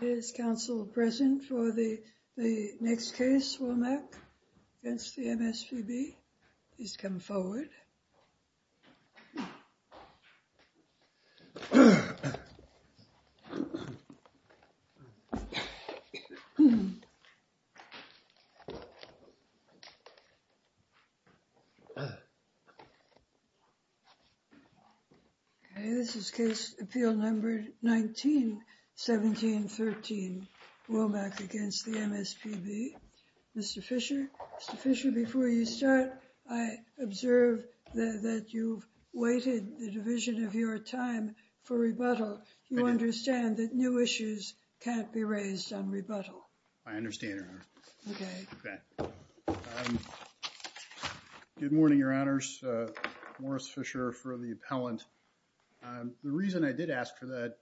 Is Council present for the next case? Womack v. MSPB? Please come forward. Okay, this is case appeal number 19-17-13, Womack v. MSPB. Mr. Fischer, Mr. Fischer, before you start, I observe that you've waited the division of your time for rebuttal. You understand that new issues can't be raised on rebuttal. I understand, Your Honor. Okay. Good morning, Your Honors. Morris Fischer for the appellant. The reason I did ask for that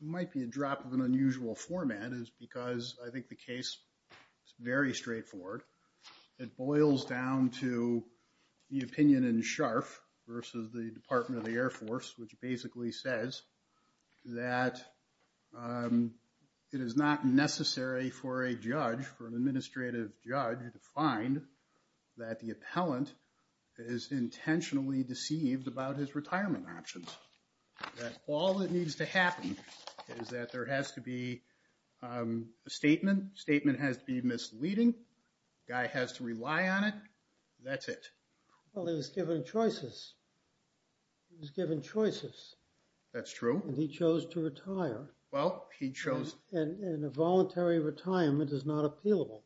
might be a drop of an unusual format is because I think the case is very straightforward. It boils down to the opinion in Scharf versus the Department of the Air Force, which basically says that it is not necessary for a judge, for an administrative judge, to find that the appellant is intentionally deceived about his retirement options. That all that needs to happen is that there has to be a statement. The statement has to be misleading. The guy has to rely on it. That's it. Well, he was given choices. He was given choices. That's true. And he chose to retire. Well, he chose... And a voluntary retirement is not appealable.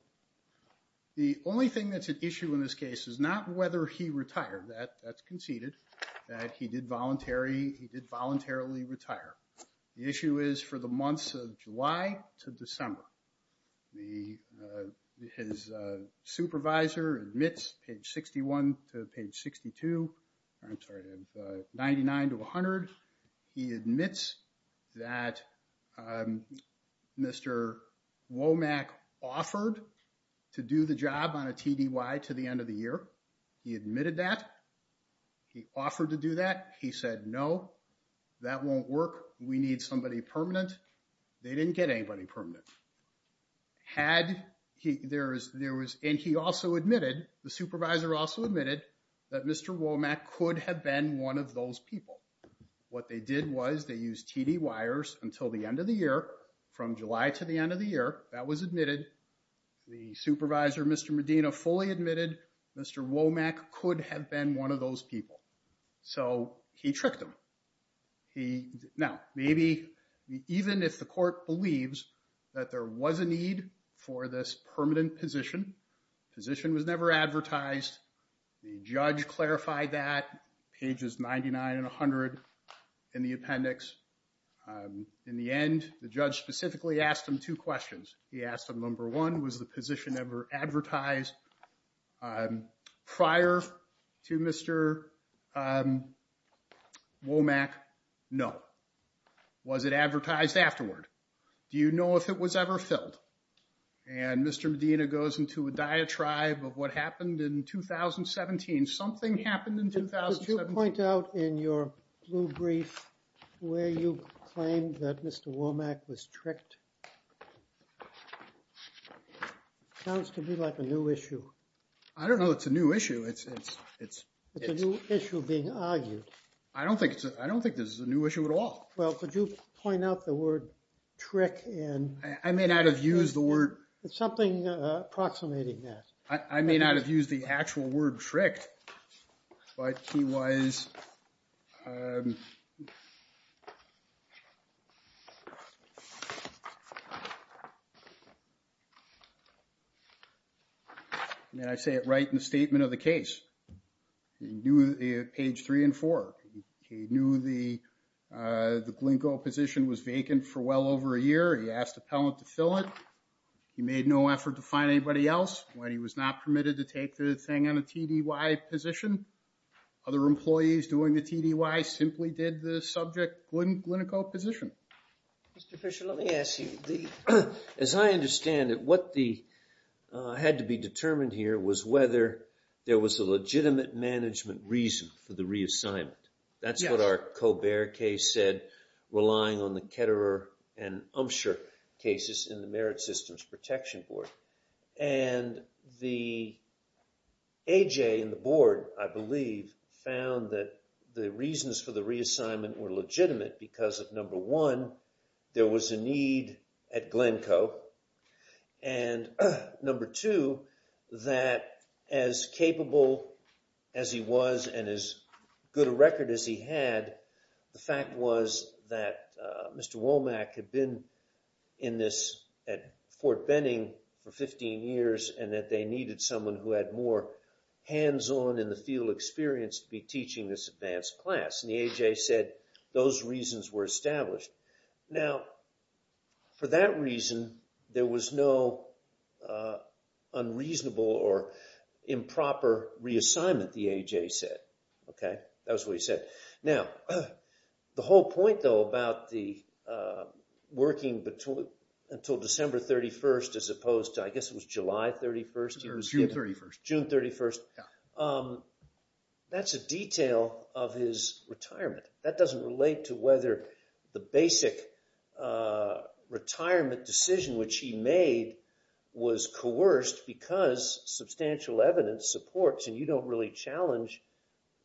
The only thing that's an issue in this case is not whether he retired. That's conceded that he did voluntarily retire. The issue is for the months of July to December. His supervisor admits, page 61 to page 62, I'm sorry, 99 to 100, he admits that Mr. Womack offered to do the job on a TDY to the end of the year. He admitted that. He offered to do that. He said, no, that won't work. We need somebody permanent. They didn't get anybody permanent. Had... And he also admitted, the supervisor also admitted, that Mr. Womack could have been one of those people. What they did was they used TDYers until the end of the year, from July to the end of the year. That was admitted. The supervisor, Mr. Medina, fully admitted Mr. Womack could have been one of those people. So he tricked them. He... Now, maybe even if the court believes that there was a need for this permanent position, position was never advertised. The judge clarified that, pages 99 and 100 in the appendix. In the end, the judge specifically asked him two questions. He asked him, number one, was the position ever advertised prior to Mr. Womack? No. Was it advertised afterward? Do you know if it was ever filled? And Mr. Medina goes into a diatribe of what happened in 2017. Something happened in 2017. Could you point out in your blue brief where you claim that Mr. Womack was tricked? Sounds to me like a new issue. I don't know it's a new issue. It's... It's a new issue being argued. I don't think it's... I don't think this is a new issue at all. Well, could you point out the word trick in... I may not have used the word... Something approximating that. I may not have used the actual word tricked, but he was... May I say it right in the statement of the case? He knew page three and four. He knew the... The Glinko position was vacant for well over a year. He asked appellant to fill it. He made no effort to find anybody else when he was not permitted to take the thing on a TDY position. Other employees doing the TDY simply did the subject Glinko position. Mr. Fisher, let me ask you. As I understand it, what the... had to be determined here was whether there was a legitimate management reason for the reassignment. That's what our Ketterer and Umsher cases in the Merit Systems Protection Board. And the A.J. in the board I believe found that the reasons for the reassignment were legitimate because of number one, there was a need at Glinko. And number two, that as capable as he was and as good a record as he had, the fact was that Mr. Womack had been in this at Fort Benning for 15 years and that they needed someone who had more hands-on in the field experience to be teaching this advanced class. And the A.J. said those reasons were established. Now, for that reason there was no unreasonable or improper reassignment, the A.J. said. Okay? That was what he said. Now, the whole point, though, about the working until December 31st as opposed to, I guess it was July 31st? Or June 31st. June 31st. That's a detail of his retirement. That doesn't relate to whether the basic retirement decision which he made was coerced because substantial evidence supports and you don't really challenge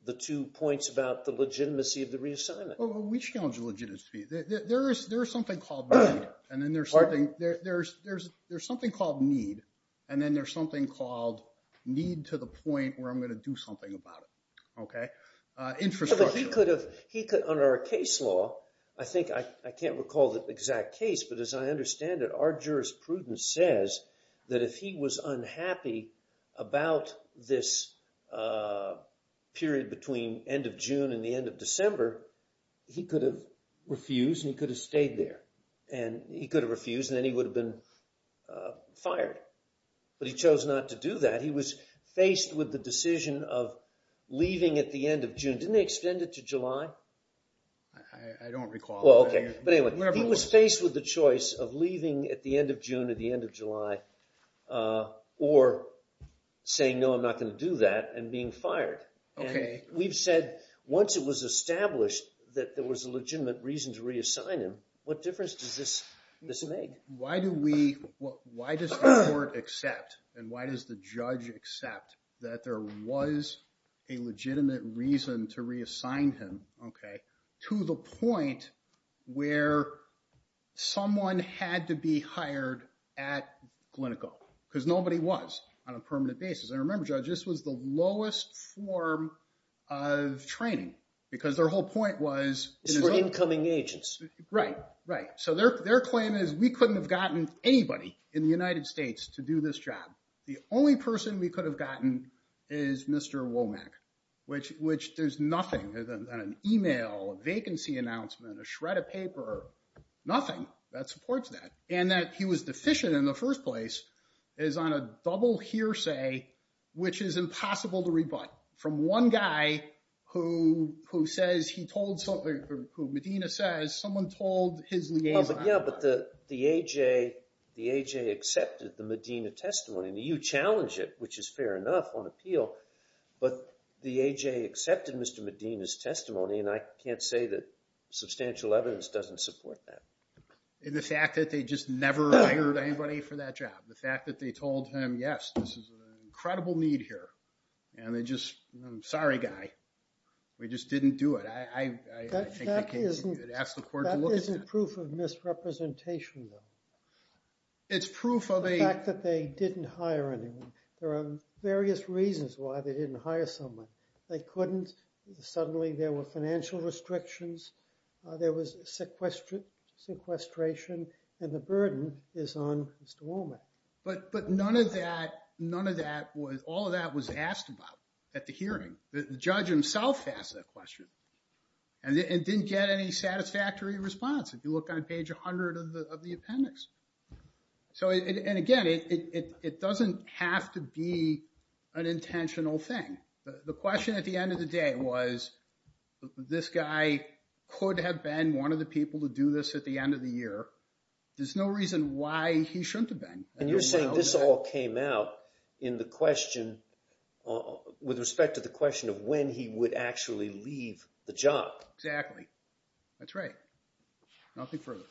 the two points about the legitimacy of the reassignment. We challenge the legitimacy. There is something called need. And then there's something called need. And then there's something called need to the point where I'm going to do something about it. Okay? Infrastructure. He could have, under our case law, I think, I can't recall the exact case, but as I understand it, our jurisprudence says that if he was unhappy about this period between end of June and the end of December, he could have refused and he could have stayed there. And he could have refused and then he would have been fired. But he chose not to do that. He was faced with the decision of leaving at the end of June. Didn't they extend it to July? I don't recall. Well, okay. But anyway, he was faced with the choice of leaving at the end of June or the end of July or saying, no, I'm not going to do that and being fired. And we've said once it was established that there was a legitimate reason to reassign him, what difference does this make? Why do we, why does the court accept and why does the judge accept that there was a legitimate reason to reassign him to the point where someone had to be hired at Glyneco? Because nobody was on a permanent basis. And remember, Judge, this was the lowest form of training because their whole point was- It's for incoming agents. Right. Right. So their claim is we couldn't have gotten anybody in the United States to do this job. The only person we could have gotten is Mr. Womack, which there's nothing on an email, a vacancy announcement, a shred of paper, nothing that supports that. And that he was deficient in the first place is on a double hearsay, which is impossible to rebut from one guy who says he told, who Medina says someone told his liaison- Yeah, but the AJ, the AJ accepted the Medina testimony and you challenge it, which is fair enough on appeal. But the AJ accepted Mr. Medina's testimony and I can't say that substantial evidence doesn't support that. The fact that they just never hired anybody for that job. The fact that they told him, yes, this is an incredible need here. And they just, I'm sorry, guy. We just didn't do it. I, I, I, I think the case- That isn't proof of misrepresentation though. It's proof of a- The fact that they didn't hire anyone. There are various reasons why they didn't hire someone. They couldn't, suddenly there were financial restrictions. There was sequestration and the burden is on Mr. Womack. But none of that, none of that was, all of that was asked about at the hearing. The judge himself asked that question and it didn't get any satisfactory response. If you look on page 100 of the, of the appendix. So it, and again, it, it, it doesn't have to be an intentional thing. The, the question at the end of the day was, this guy could have been one of the people to do this at the end of the year. There's no reason why he shouldn't have been. And you're saying this all came out in the question with respect to the question of when he would actually leave the job. Exactly. That's right. Nothing further.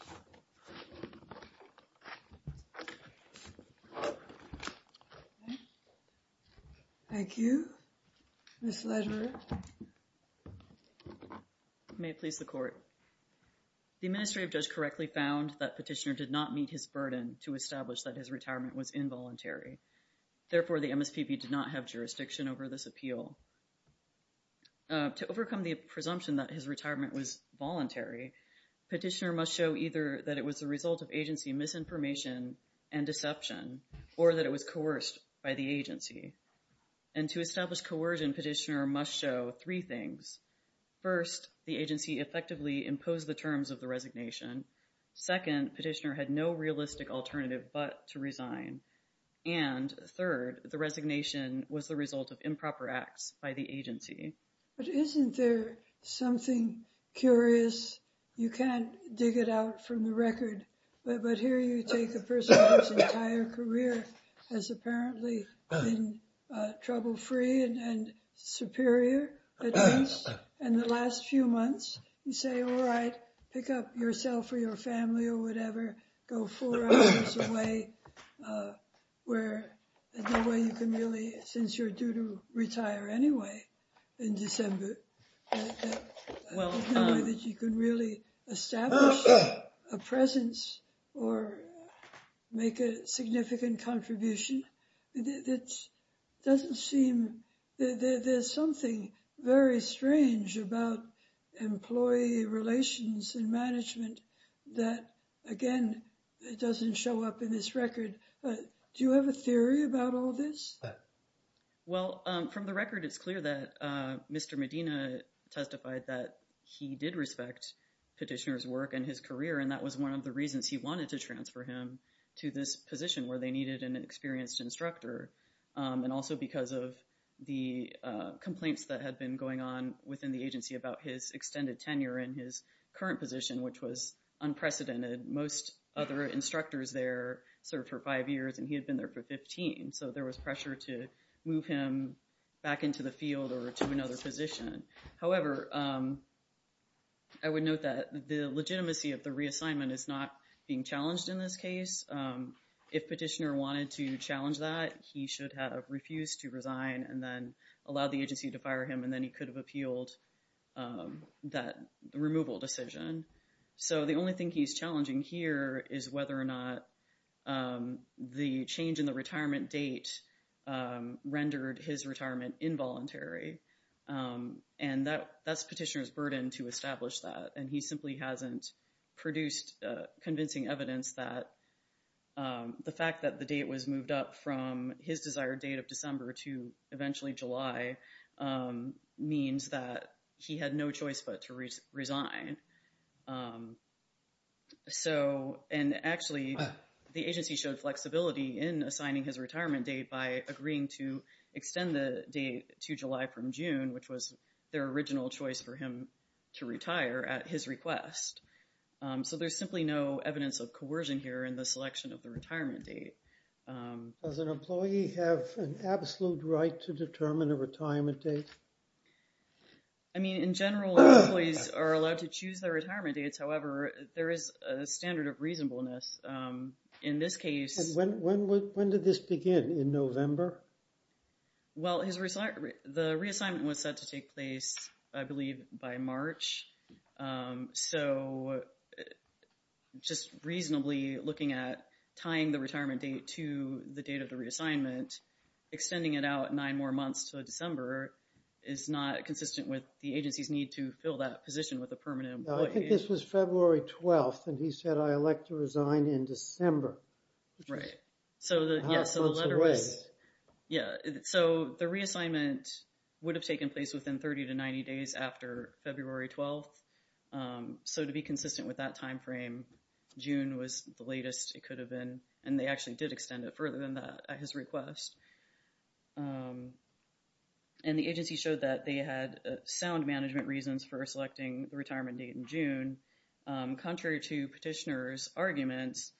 Thank you. Ms. Ledger. May it please the court. The administrative judge correctly found that Petitioner did not meet his burden to establish that his retirement was involuntary. Therefore, the To overcome the presumption that his retirement was voluntary, Petitioner must show either that it was a result of agency misinformation and deception, or that it was coerced by the agency. And to establish coercion, Petitioner must show three things. First, the agency effectively imposed the terms of the resignation. Second, Petitioner had no realistic alternative but to resign. And third, the resignation was the result of improper acts by the agency. But isn't there something curious? You can't dig it out from the record. But here you take the person whose entire career has apparently been trouble-free and superior, at least, in the last few months. You say, all right, pick up yourself or your family or whatever, go four hours away, where the way you can really, since you're due to retire anyway in December, that you can really establish a presence or make a significant contribution. It doesn't seem that there's something very strange about employee relations and management that, again, it doesn't show up in this record. Do you have a theory about all this? Well, from the record, it's clear that Mr. Medina testified that he did respect Petitioner's work and his career. And that was one of the reasons he wanted to transfer him to this position where they needed an experienced instructor. And also because of the complaints that had been going on the agency about his extended tenure in his current position, which was unprecedented. Most other instructors there served for five years, and he had been there for 15. So there was pressure to move him back into the field or to another position. However, I would note that the legitimacy of the reassignment is not being challenged in this case. If Petitioner wanted to challenge that, he should have refused to resign and then allowed the agency to fire him, then he could have appealed that removal decision. So the only thing he's challenging here is whether or not the change in the retirement date rendered his retirement involuntary. And that's Petitioner's burden to establish that. And he simply hasn't produced convincing evidence that the fact that the date was moved up from his desired date of December to eventually July means that he had no choice but to resign. And actually, the agency showed flexibility in assigning his retirement date by agreeing to extend the date to July from June, which was their original choice for him to retire at his request. So there's simply no evidence of coercion here in the selection of the retirement date. Does an employee have an absolute right to determine a retirement date? I mean, in general, employees are allowed to choose their retirement dates. However, there is a standard of reasonableness. In this case... When did this begin? In November? Well, the reassignment was set to take place, I believe, by March. So just reasonably looking at tying the retirement date to the date of the reassignment, extending it out nine more months to December is not consistent with the agency's need to fill that position with a permanent employee. I think this was February 12th, and he said, I elect to resign in December. Right. So the letter was... A half month's delay. Yeah. So the reassignment would have taken place within 30 to 90 days after February 12th. So to be consistent with that time frame, June was the latest it could have been, and they actually did extend it further than that at his request. And the agency showed that they had sound management reasons for selecting the retirement date in June. Contrary to petitioners' arguments,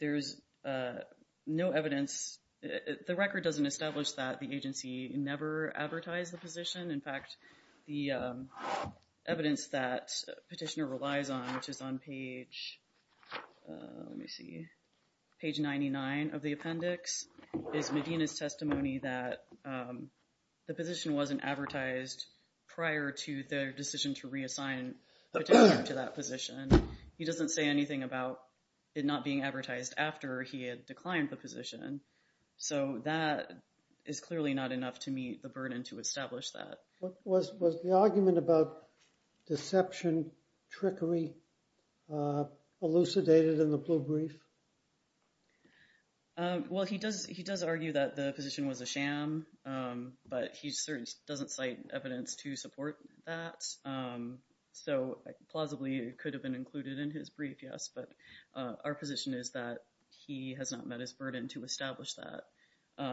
there's no evidence... The record doesn't establish that the agency never advertised the position. In fact, the petitioner relies on, which is on page 99 of the appendix, is Medina's testimony that the position wasn't advertised prior to their decision to reassign the petitioner to that position. He doesn't say anything about it not being advertised after he had declined the position. So that is clearly not enough to meet the burden to establish that. Was the argument about deception, trickery elucidated in the blue brief? Well, he does argue that the position was a sham, but he certainly doesn't cite evidence to support that. So plausibly, it could have been included in his brief, yes, but our position is that he has not met his burden to establish that.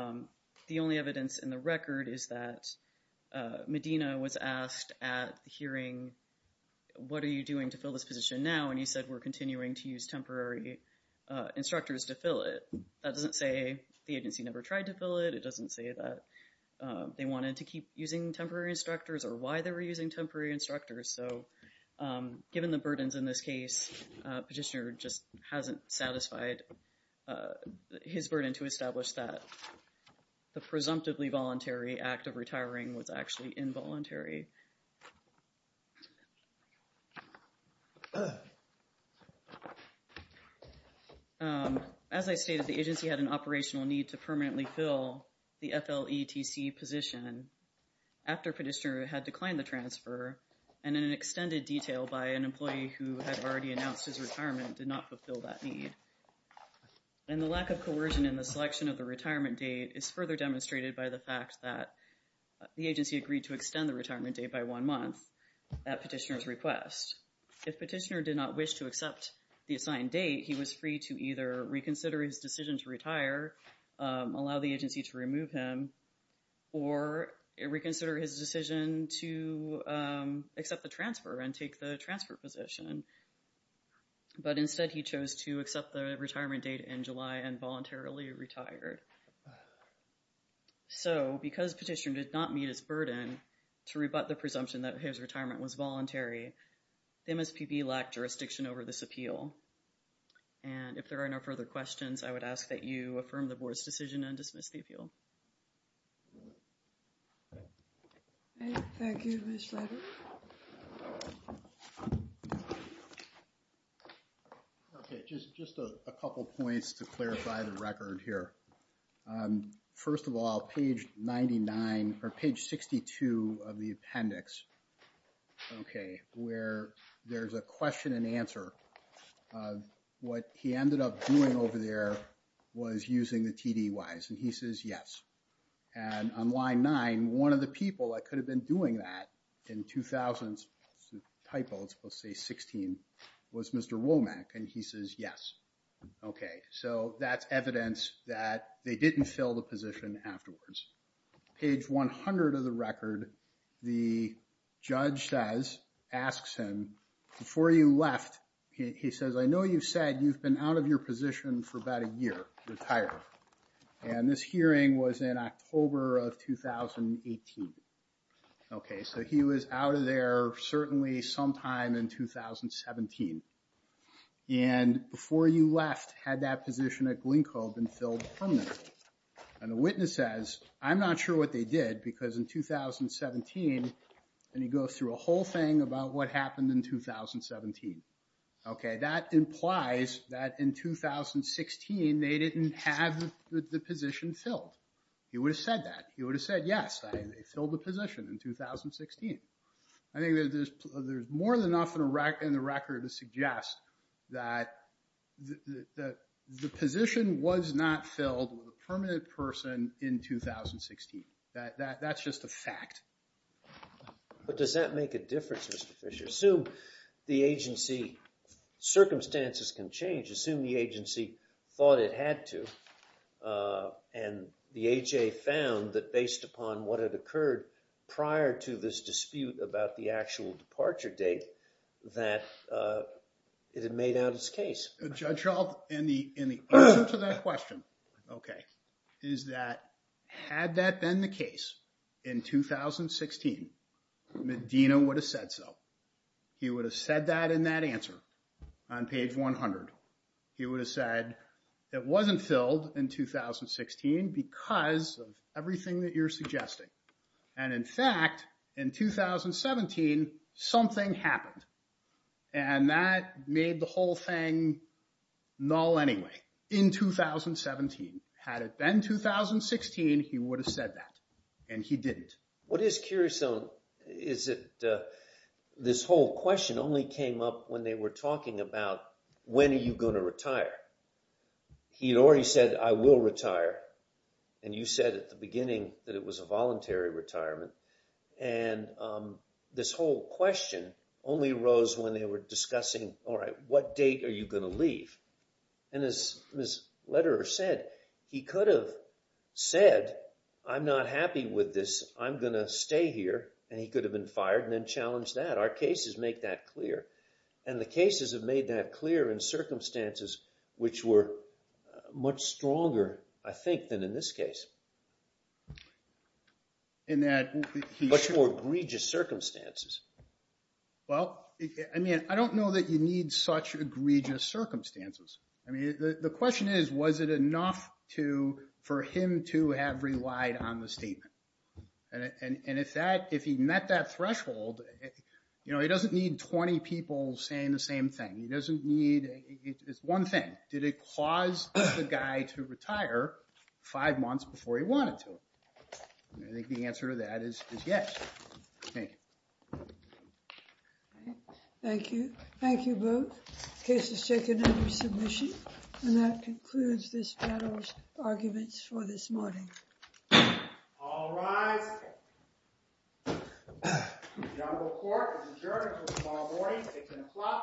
The only evidence in the record is that Medina was asked at the hearing, what are you doing to fill this position now? And he said, we're continuing to use temporary instructors to fill it. That doesn't say the agency never tried to fill it. It doesn't say that they wanted to keep using temporary instructors or why they were using temporary instructors. So given the burdens in this case, petitioner just hasn't satisfied his burden to establish that the presumptively voluntary act of retiring was actually involuntary. As I stated, the agency had an operational need to permanently fill the FLETC position after petitioner had declined the transfer and an extended detail by an employee who had already announced his retirement did not fulfill that need. And the lack of coercion in the selection of the retirement date is further demonstrated by the fact that the agency agreed to extend the retirement date by one month at petitioner's request. If petitioner did not wish to accept the assigned date, he was free to either reconsider his decision to retire, allow the agency to remove him, or reconsider his decision to accept the transfer and take the position. But instead, he chose to accept the retirement date in July and voluntarily retired. So because petitioner did not meet his burden to rebut the presumption that his retirement was voluntary, the MSPB lacked jurisdiction over this appeal. And if there are no further questions, I would ask that you affirm the board's decision and dismiss the appeal. All right, thank you, Mr. Levy. Okay, just a couple points to clarify the record here. First of all, page 99 or page 62 of the appendix, okay, where there's a question and answer. What he ended up doing over there was using the TDYs, and he says, yes. And on line nine, one of the people that could have been doing that in 2000, typo, it's supposed to say 16, was Mr. Womack, and he says, yes. Okay, so that's evidence that they didn't fill the position afterwards. Page 100 of the record, the judge says, asks him, before you left, he says, I know you've said you've been out of your position for about a year, retired. And this hearing was in October of 2018. Okay, so he was out of there certainly sometime in 2017. And before you left, had that position at Glynco been filled permanently? And the witness says, I'm not sure what they did, because in 2017, and he goes through a whole thing about what happened in 2017. Okay, that implies that in 2016, they didn't have the position filled. He would have said that. He would have said, yes, they filled the position in 2016. I think there's more than enough in the record to suggest that the position was not filled with a permanent person in 2016. That's just a fact. But does that make a difference, Mr. Fisher? Assume the agency, circumstances can change, assume the agency thought it had to, and the AHA found that based upon what had occurred prior to this dispute about the actual departure date, that it had made out its case. Judge Schultz, in the answer to that question, okay, is that had that been the case in 2016, Medina would have said so. He would have said that in that answer on page 100. He would have said, it wasn't filled in 2016 because of everything that you're suggesting. And in fact, in 2017, something happened. And that made the whole thing null anyway, in 2017. Had it been 2016, he would have said that. And he didn't. What is curious though, is that this whole question only came up when they were talking about, when are you going to retire? He had already said, I will retire. And you said at the beginning that it was a voluntary retirement. And this whole question only arose when they were discussing, all right, what date are you going to leave? And as Ms. Lederer said, he could have said, I'm not happy with this. I'm going to stay here. And he could have been fired and then challenged that. Our cases make that clear. And the cases have made that clear in circumstances which were much stronger, I think, than in this circumstances. Well, I mean, I don't know that you need such egregious circumstances. I mean, the question is, was it enough for him to have relied on the statement? And if he met that threshold, he doesn't need 20 people saying the same thing. He doesn't need, it's one thing. Did it cause the guy to retire five months before he wanted to? I think the answer to that is yes. Thank you. Thank you. Thank you both. Case is taken under submission. And that concludes this panel's arguments for this morning. All rise. The Honorable Court is adjourned until tomorrow morning at 10 o'clock a.m.